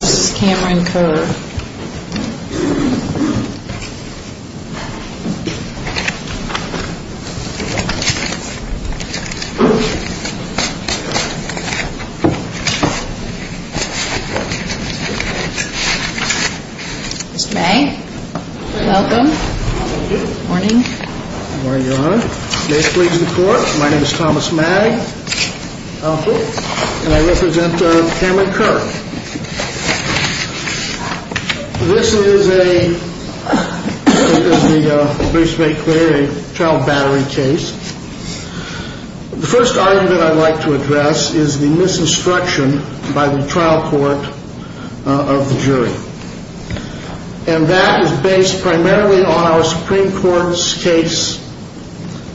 Ms. Cameron Kerr. Mr. Magg. Welcome. Good morning. Good morning, Your Honor. My name is Thomas Magg, and I represent Cameron Kerr. This is a brief state query, a trial battery case. The first argument I'd like to address is the misinstruction by the trial court of the jury. And that is based primarily on our Supreme Court's case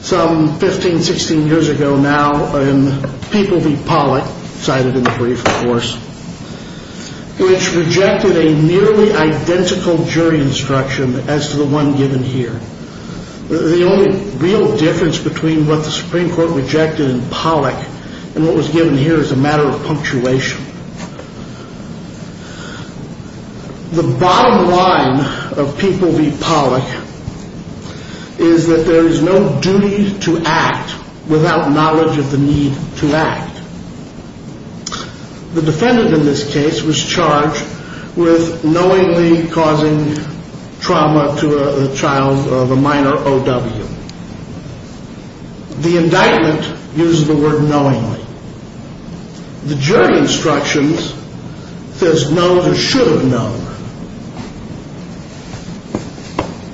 some 15, 16 years ago now in People v. Pollock, cited in the brief, of course, which rejected a nearly identical jury instruction as to the one given here. The only real difference between what the Supreme Court rejected in Pollock and what was given here is a matter of punctuation. The bottom line of People v. Pollock is that there is no duty to act without knowledge of the need to act. The defendant in this case was charged with knowingly causing trauma to a child of a minor O.W. The indictment uses the word knowingly. The jury instructions says no to should have known.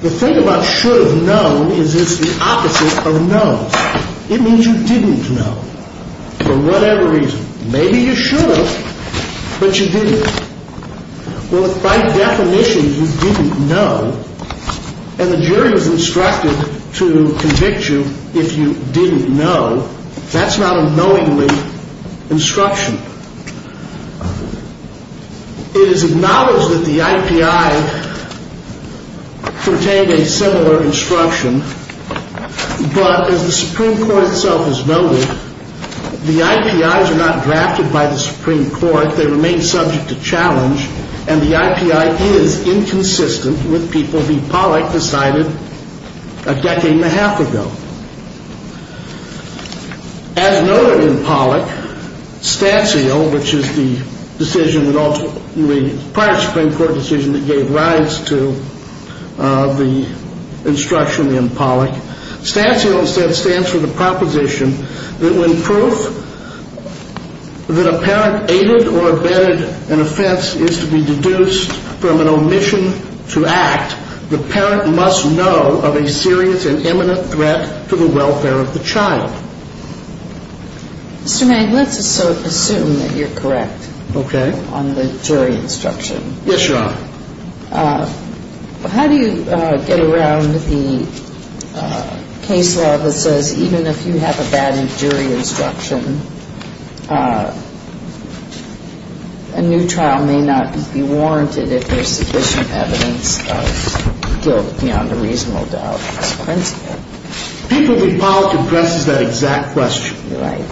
The thing about should have known is it's the opposite of knows. It means you didn't know for whatever reason. Maybe you should have, but you didn't. Well, by definition, you didn't know, and the jury was instructed to convict you if you didn't know. That's not a knowingly instruction. It is acknowledged that the I.P.I. contained a similar instruction, but as the Supreme Court itself has noted, the I.P.I.s are not and the I.P.I. is inconsistent with People v. Pollock decided a decade and a half ago. As noted in Pollock, STANCIAL, which is the decision prior to the Supreme Court decision that gave rise to the instruction in Pollock, STANCIAL instead stands for the proposition that when proof that a parent aided or abetted an offense is to be deduced from an omission to act, the parent must know of a serious and imminent threat to the welfare of the child. Mr. Magg, let's assume that you're correct on the jury instruction. Yes, Your Honor. If you're correct on the jury instruction, a new trial may not be warranted if there's sufficient evidence of guilt beyond a reasonable doubt as a principle. People v. Pollock addresses that exact question. Right.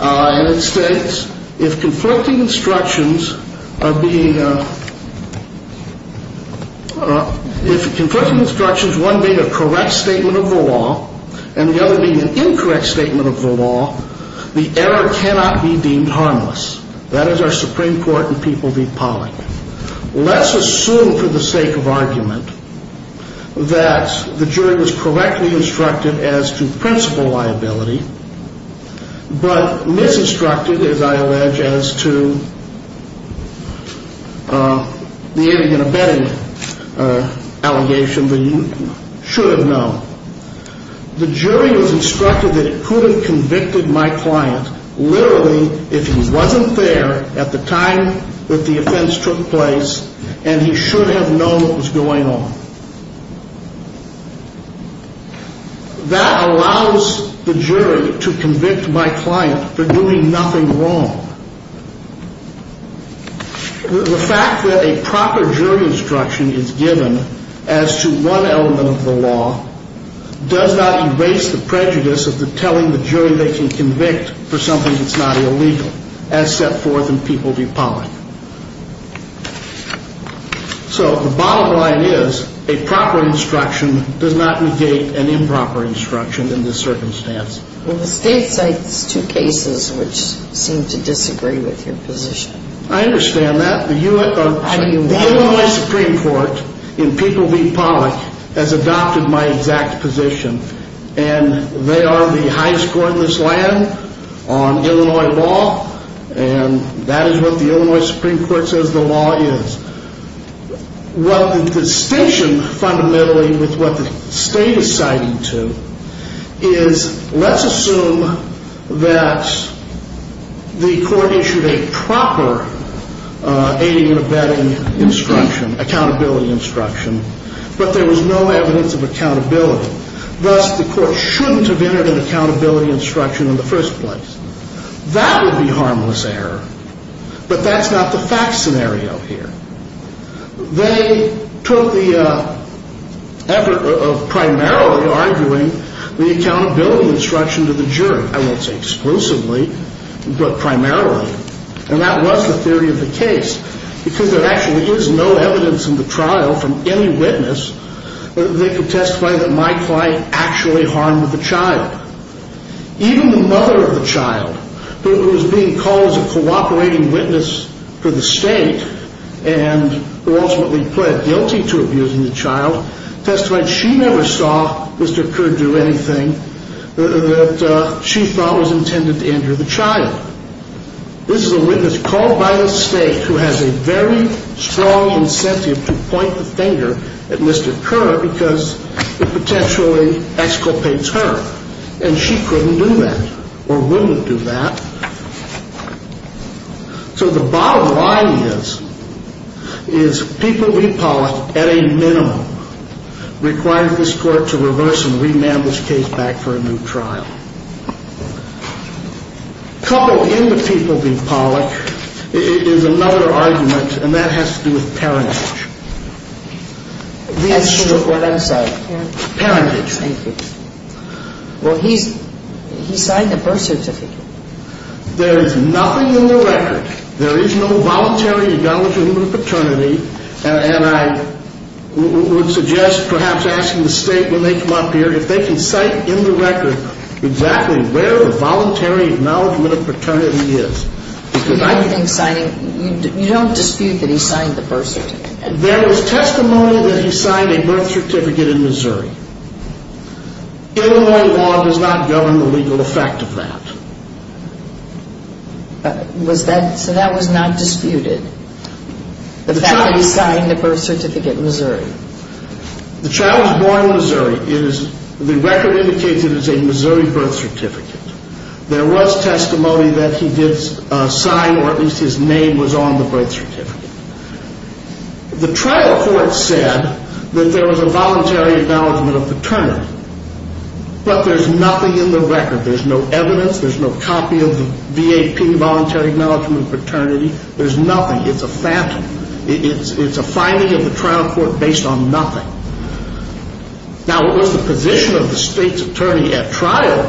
And it states, if conflicting instructions are being, if conflicting instructions, one being a correct statement of the law and the other being an incorrect statement of the law, the error cannot be deemed harmless. That is our Supreme Court in People v. Pollock. Let's assume for the sake of argument that the jury was correctly instructed as to principle liability, but misinstructed, as I allege, as to the aiding and abetting allegation that you should have known. The jury was instructed that it couldn't convicted my client literally if he wasn't there at the time that the offense took place and he should have known what was going on. That allows the jury to convict my client for doing nothing wrong. The fact that a proper jury instruction is given as to one element of the law does not erase the prejudice of the telling the jury they can convict for something that's not illegal as set forth in People v. Pollock. So the bottom line is a proper instruction does not negate an improper instruction in this circumstance. Well, the state cites two cases which seem to disagree with your position. I understand that. The Illinois Supreme Court in People v. Pollock has adopted my exact position and they are the highest court in this land on Illinois law and that is what the Illinois Supreme Court says the law is. Well, the distinction fundamentally with what the state is citing to is let's assume that the court issued a proper aiding and abetting instruction, accountability instruction, but there was no evidence of accountability. Thus, the court shouldn't have entered an accountability instruction in the first place. That would be harmless error, but that's not the fact scenario here. They took the effort of primarily arguing the accountability instruction to the jury. I won't say exclusively, but primarily. And that was the theory of the case because there actually is no evidence in the trial from any witness that they could testify that my client actually harmed the child. Even the mother of the child who was being called as a cooperating witness for the state and who ultimately pled guilty to abusing the child testified she never saw Mr. Kerr do anything that she thought was intended to injure the child. This is a witness called by the state who has a very strong incentive to point the finger at Mr. Kerr because it potentially exculpates her. And she couldn't do that or wouldn't do that. So the bottom line is, is People v. Pollock at a minimum requires this court to reverse and remand this case back for a new trial. Coupled in with People v. Pollock is another argument, and that has to do with parentage. Well, he signed the birth certificate. There is nothing in the record. There is no voluntary acknowledgment of paternity. And I would suggest perhaps asking the state when they come up here if they can cite in the record exactly where the voluntary acknowledgment of paternity is. You don't dispute that he signed the birth certificate? There is testimony that he signed a birth certificate in Missouri. Illinois law does not govern the legal effect of that. So that was not disputed? The fact that he signed the birth certificate in Missouri? The child was born in Missouri. The record indicates it is a Missouri birth certificate. There was testimony that he did sign, or at least his name was on the birth certificate. The trial court said that there was a voluntary acknowledgment of paternity. But there's nothing in the record. There's no evidence. There's no copy of the V.A.P. voluntary acknowledgment of paternity. There's nothing. It's a phantom. It's a finding of the trial court based on nothing. Now, it was the position of the state's attorney at trial,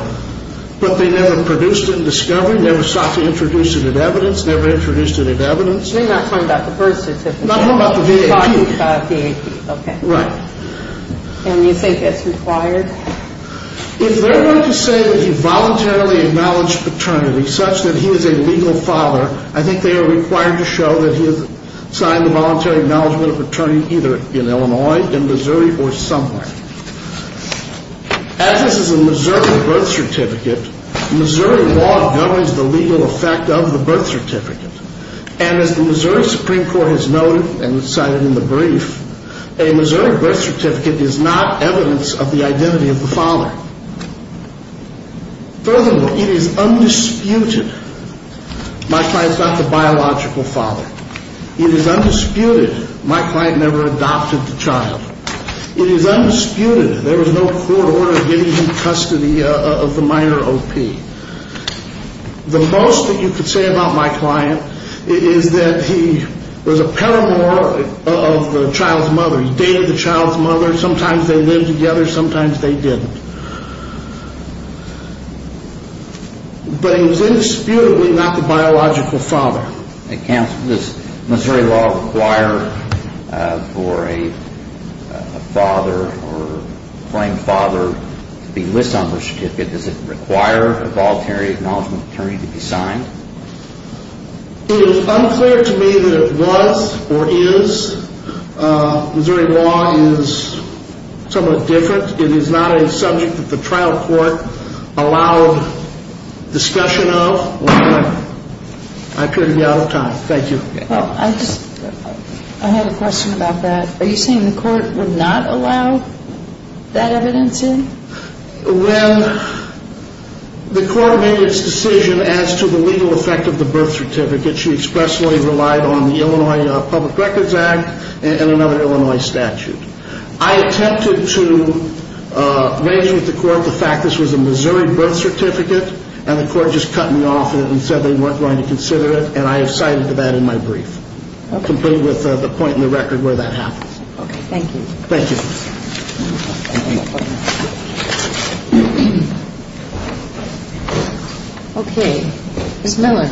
but they never produced it in discovery, never sought to introduce it in evidence, never introduced it in evidence. You're not talking about the birth certificate? I'm talking about the V.A.P. You're talking about the V.A.P., okay. Right. And you think it's required? If they're going to say that he voluntarily acknowledged paternity such that he is a legal father, I think they are required to show that he has signed the voluntary acknowledgment of paternity either in Illinois, in Missouri, or somewhere. As this is a Missouri birth certificate, Missouri law governs the legal effect of the birth certificate. And as the Missouri Supreme Court has noted and cited in the brief, a Missouri birth certificate is not evidence of the identity of the father. Furthermore, it is undisputed my client's not the biological father. It is undisputed my client never adopted the child. It is undisputed there was no court order giving him custody of the minor O.P. The most that you could say about my client is that he was a paramour of the child's mother. He dated the child's mother. Sometimes they lived together, sometimes they didn't. But he was indisputably not the biological father. Counsel, does Missouri law require for a father or claimed father to be listed on the certificate? Does it require a voluntary acknowledgment of paternity to be signed? It is unclear to me that it was or is. Missouri law is somewhat different. It is not a subject that the trial court allowed discussion of. I appear to be out of time. Thank you. I have a question about that. Are you saying the court would not allow that evidence in? When the court made its decision as to the legal effect of the birth certificate, she expressly relied on the Illinois Public Records Act and another Illinois statute. I attempted to raise with the court the fact this was a Missouri birth certificate and the court just cut me off and said they weren't going to consider it, and I have cited that in my brief. I'll conclude with the point in the record where that happens. Okay. Thank you. Thank you. Okay. Ms. Miller.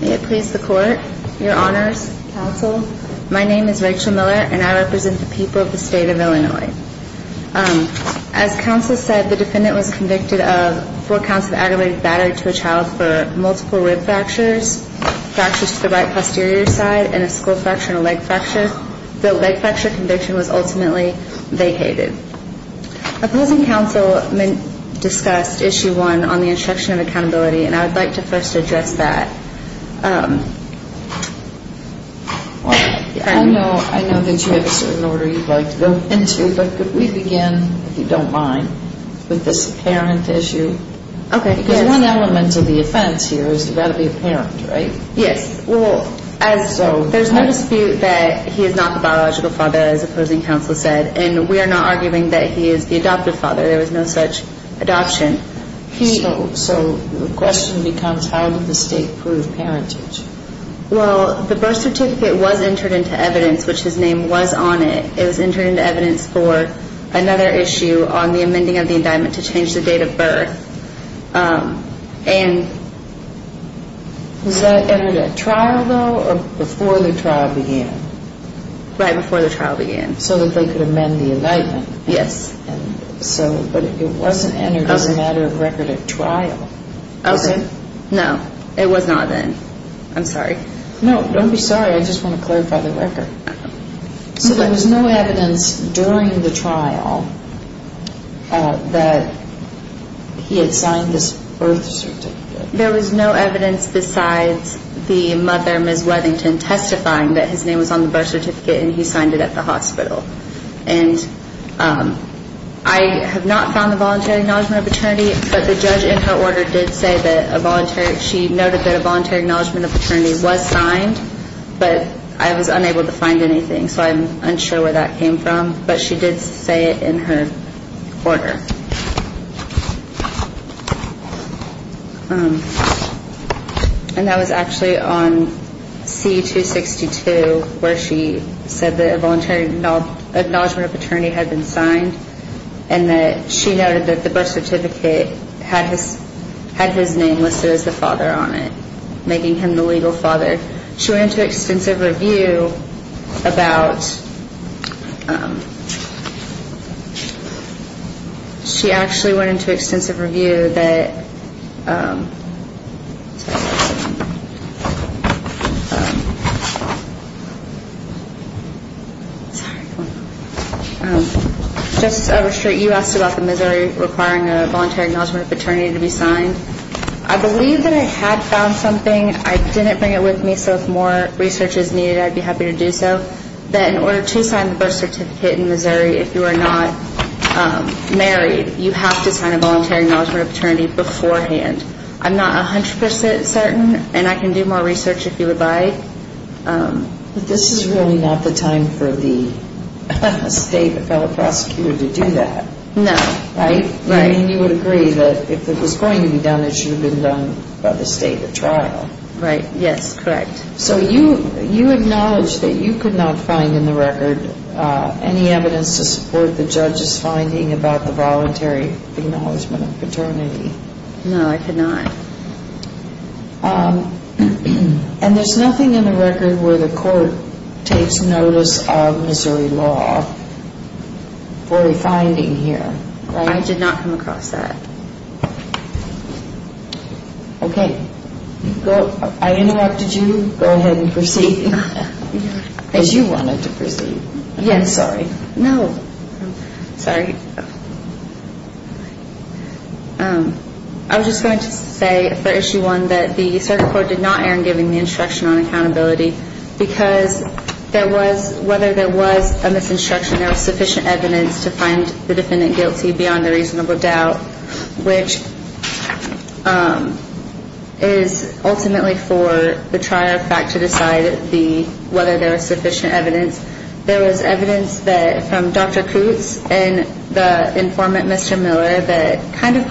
May it please the court, your honors, counsel, my name is Rachel Miller, and I represent the people of the state of Illinois. As counsel said, the defendant was convicted of four counts of aggravated battery to a child for multiple rib fractures, fractures to the right posterior side, and a skull fracture and a leg fracture. The leg fracture conviction was ultimately vacated. Opposing counsel discussed issue one on the instruction of accountability, and I would like to first address that. I know that you have a certain order you'd like to go into, but could we begin, if you don't mind, with this apparent issue? Okay. Because one element of the offense here is it's got to be apparent, right? Yes. Well, there's no dispute that he is not the biological father, as opposing counsel said, and we are not arguing that he is the adoptive father. There was no such adoption. So the question becomes how did the state prove parentage? Well, the birth certificate was entered into evidence, which his name was on it. It was entered into evidence for another issue on the amending of the indictment to change the date of birth. Was that entered at trial, though, or before the trial began? Right before the trial began. So that they could amend the indictment. Yes. But it wasn't entered as a matter of record at trial. Okay. No, it was not then. I'm sorry. No, don't be sorry. I just want to clarify the record. So there was no evidence during the trial that he had signed this birth certificate? There was no evidence besides the mother, Ms. Weathington, testifying that his name was on the birth certificate and he signed it at the hospital. And I have not found the voluntary acknowledgment of paternity, but the judge in her order did say that a voluntary ñ she noted that a voluntary acknowledgment of paternity was signed, but I was unable to find anything, so I'm unsure where that came from. But she did say it in her order. And that was actually on C-262, where she said that a voluntary acknowledgment of paternity had been signed and that she noted that the birth certificate had his name listed as the father on it, making him the legal father. She went into extensive review about ñ she actually went into extensive review that ñ Justice Overstreet, you asked about the Missouri requiring a voluntary acknowledgment of paternity to be signed. I believe that I had found something. I didn't bring it with me, so if more research is needed, I'd be happy to do so. That in order to sign the birth certificate in Missouri, if you are not married, you have to sign a voluntary acknowledgment of paternity beforehand. I'm not 100 percent certain, and I can do more research if you would like. But this is really not the time for the state or fellow prosecutor to do that. No. Right? Right. I mean, you would agree that if it was going to be done, it should have been done by the state at trial. Right. Yes, correct. So you acknowledge that you could not find in the record any evidence to support the judge's finding about the voluntary acknowledgment of paternity. No, I could not. And there's nothing in the record where the court takes notice of Missouri law for a finding here, right? No, I did not come across that. Okay. I interrupted you. Go ahead and proceed as you wanted to proceed. Yes. I'm sorry. No. Sorry. I was just going to say for Issue 1 that the circuit court did not err in giving the instruction on accountability because whether there was a misinstruction, there was sufficient evidence to find the defendant guilty beyond a reasonable doubt, which is ultimately for the trier of fact to decide whether there was sufficient evidence. There was evidence from Dr. Coots and the informant, Mr. Miller, that kind of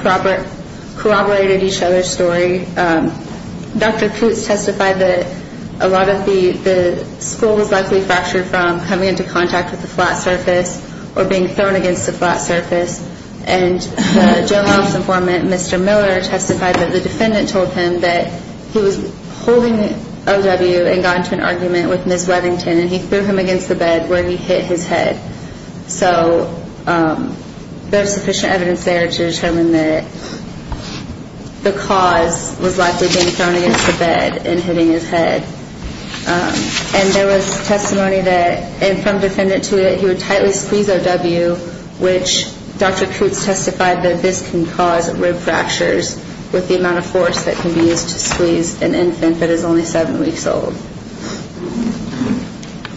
corroborated each other's story. Dr. Coots testified that a lot of the skull was likely fractured from coming into contact with the flat surface or being thrown against the flat surface. And the general office informant, Mr. Miller, testified that the defendant told him that he was holding the OW and got into an argument with Ms. Webbington, and he threw him against the bed where he hit his head. So there's sufficient evidence there to determine that the cause was likely being thrown against the bed and hitting his head. And there was testimony that, and from defendant to it, he would tightly squeeze OW, which Dr. Coots testified that this can cause rib fractures with the amount of force that can be used to squeeze an infant that is only seven weeks old.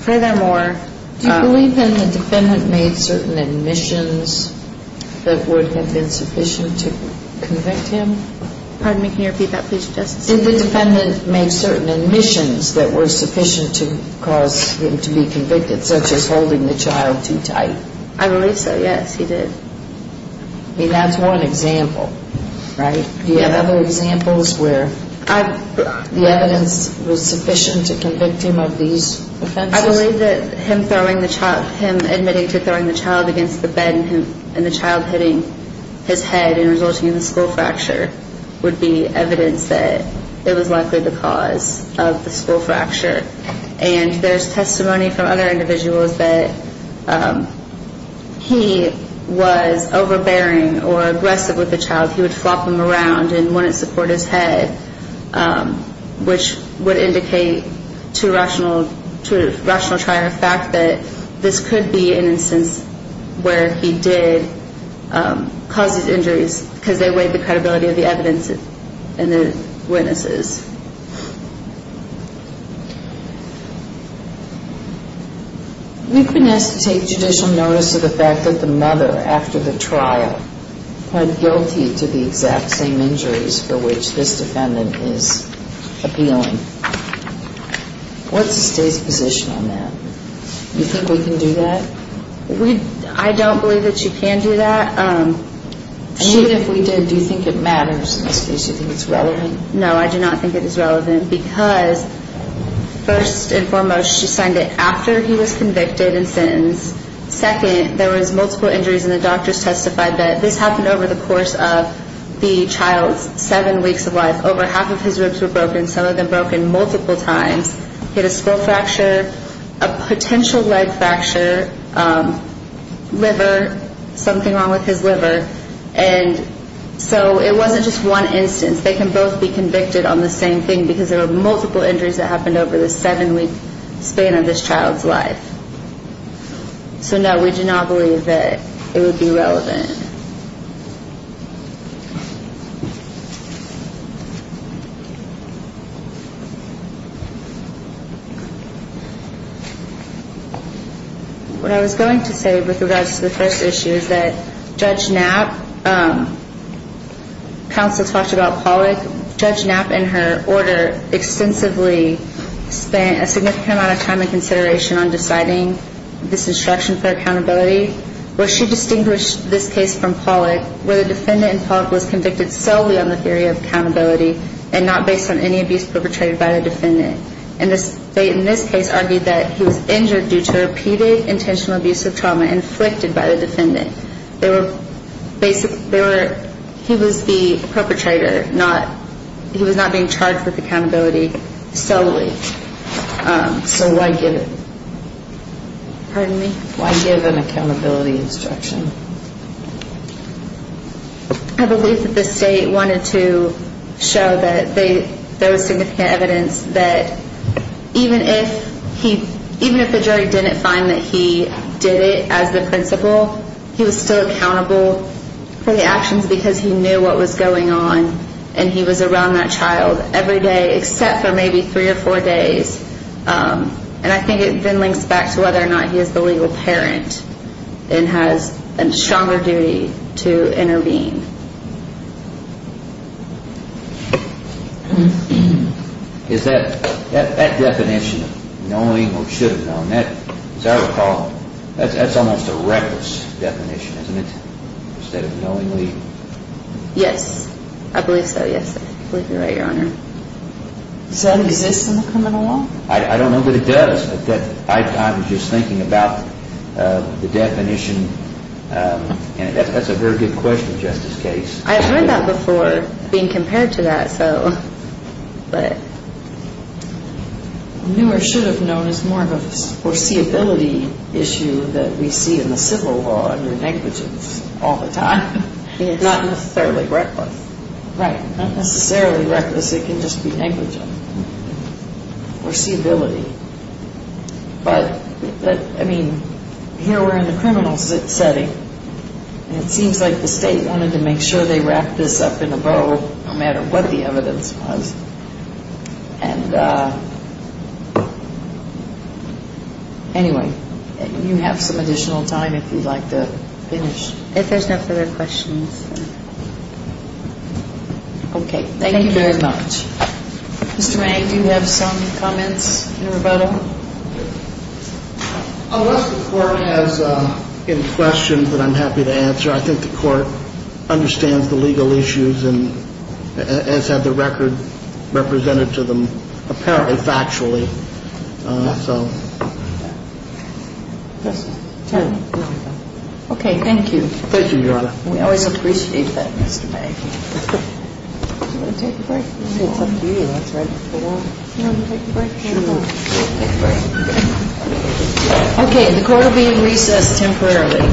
Furthermore... Do you believe then the defendant made certain admissions that would have been sufficient to convict him? Pardon me, can you repeat that, please, Justice? Did the defendant make certain admissions that were sufficient to cause him to be convicted, such as holding the child too tight? I believe so, yes, he did. I mean, that's one example, right? Do you have other examples where the evidence was sufficient to convict him of these offenses? I believe that him admitting to throwing the child against the bed and the child hitting his head and resulting in a skull fracture would be evidence that it was likely the cause of the skull fracture. And there's testimony from other individuals that he was overbearing or aggressive with the child. He would flop him around and wouldn't support his head, which would indicate to a rational trial the fact that this could be an instance where he did cause these injuries because they weighed the credibility of the evidence and the witnesses. We've been asked to take judicial notice of the fact that the mother after the trial pled guilty to the exact same injuries for which this defendant is appealing. What's the state's position on that? Do you think we can do that? I don't believe that you can do that. And even if we did, do you think it matters in this case? Do you think it's relevant? No, I do not think it matters. I don't think it is relevant because, first and foremost, she signed it after he was convicted and sentenced. Second, there was multiple injuries, and the doctors testified that this happened over the course of the child's seven weeks of life. Over half of his ribs were broken, some of them broken multiple times. He had a skull fracture, a potential leg fracture, liver, something wrong with his liver. And so it wasn't just one instance. They can both be convicted on the same thing because there were multiple injuries that happened over the seven-week span of this child's life. So, no, we do not believe that it would be relevant. Any other questions? What I was going to say with regards to the first issue is that Judge Knapp, counsel talked about Pollack, Judge Knapp and her order extensively spent a significant amount of time and consideration on deciding this instruction for accountability. Where she distinguished this case from Pollack, where the defendant in Pollack was convicted solely on the theory of accountability and not based on any abuse perpetrated by the defendant. And in this case argued that he was injured due to repeated intentional abuse of trauma inflicted by the defendant. He was the perpetrator. He was not being charged with accountability solely. So why give an accountability instruction? I believe that the state wanted to show that there was significant evidence that even if he, even if the jury didn't find that he did it as the principal, he was still accountable for the actions because he knew what was going on and he was around that child every day except for maybe three or four days. And I think it then links back to whether or not he is the legal parent and has a stronger duty to intervene. Is that definition of knowing or should have known, as I recall, that's almost a reckless definition, isn't it, instead of knowingly? Yes. I believe so, yes. I believe you're right, Your Honor. Does that exist in the criminal law? I don't know that it does, but I was just thinking about the definition. And that's a very good question, Justice Case. I've heard that before being compared to that, so, but. Knew or should have known is more of a foreseeability issue that we see in the civil law under negligence all the time. Not necessarily reckless. Right. Not necessarily reckless, it can just be negligent. Foreseeability. But, I mean, here we're in the criminal setting, and it seems like the state wanted to make sure they wrapped this up in a bow, no matter what the evidence was. And anyway, you have some additional time if you'd like to finish. If there's no further questions. Okay. Thank you very much. Mr. Mang, do you have some comments in rebuttal? Unless the Court has any questions that I'm happy to answer, I think the Court understands the legal issues and has had the record represented to them apparently factually, so. Okay. Thank you. Thank you, Your Honor. We always appreciate that, Mr. Mang. Do you want to take a break? It's up to you. That's right. Do you want to take a break? Sure. Take a break. Okay. The Court will be in recess temporarily.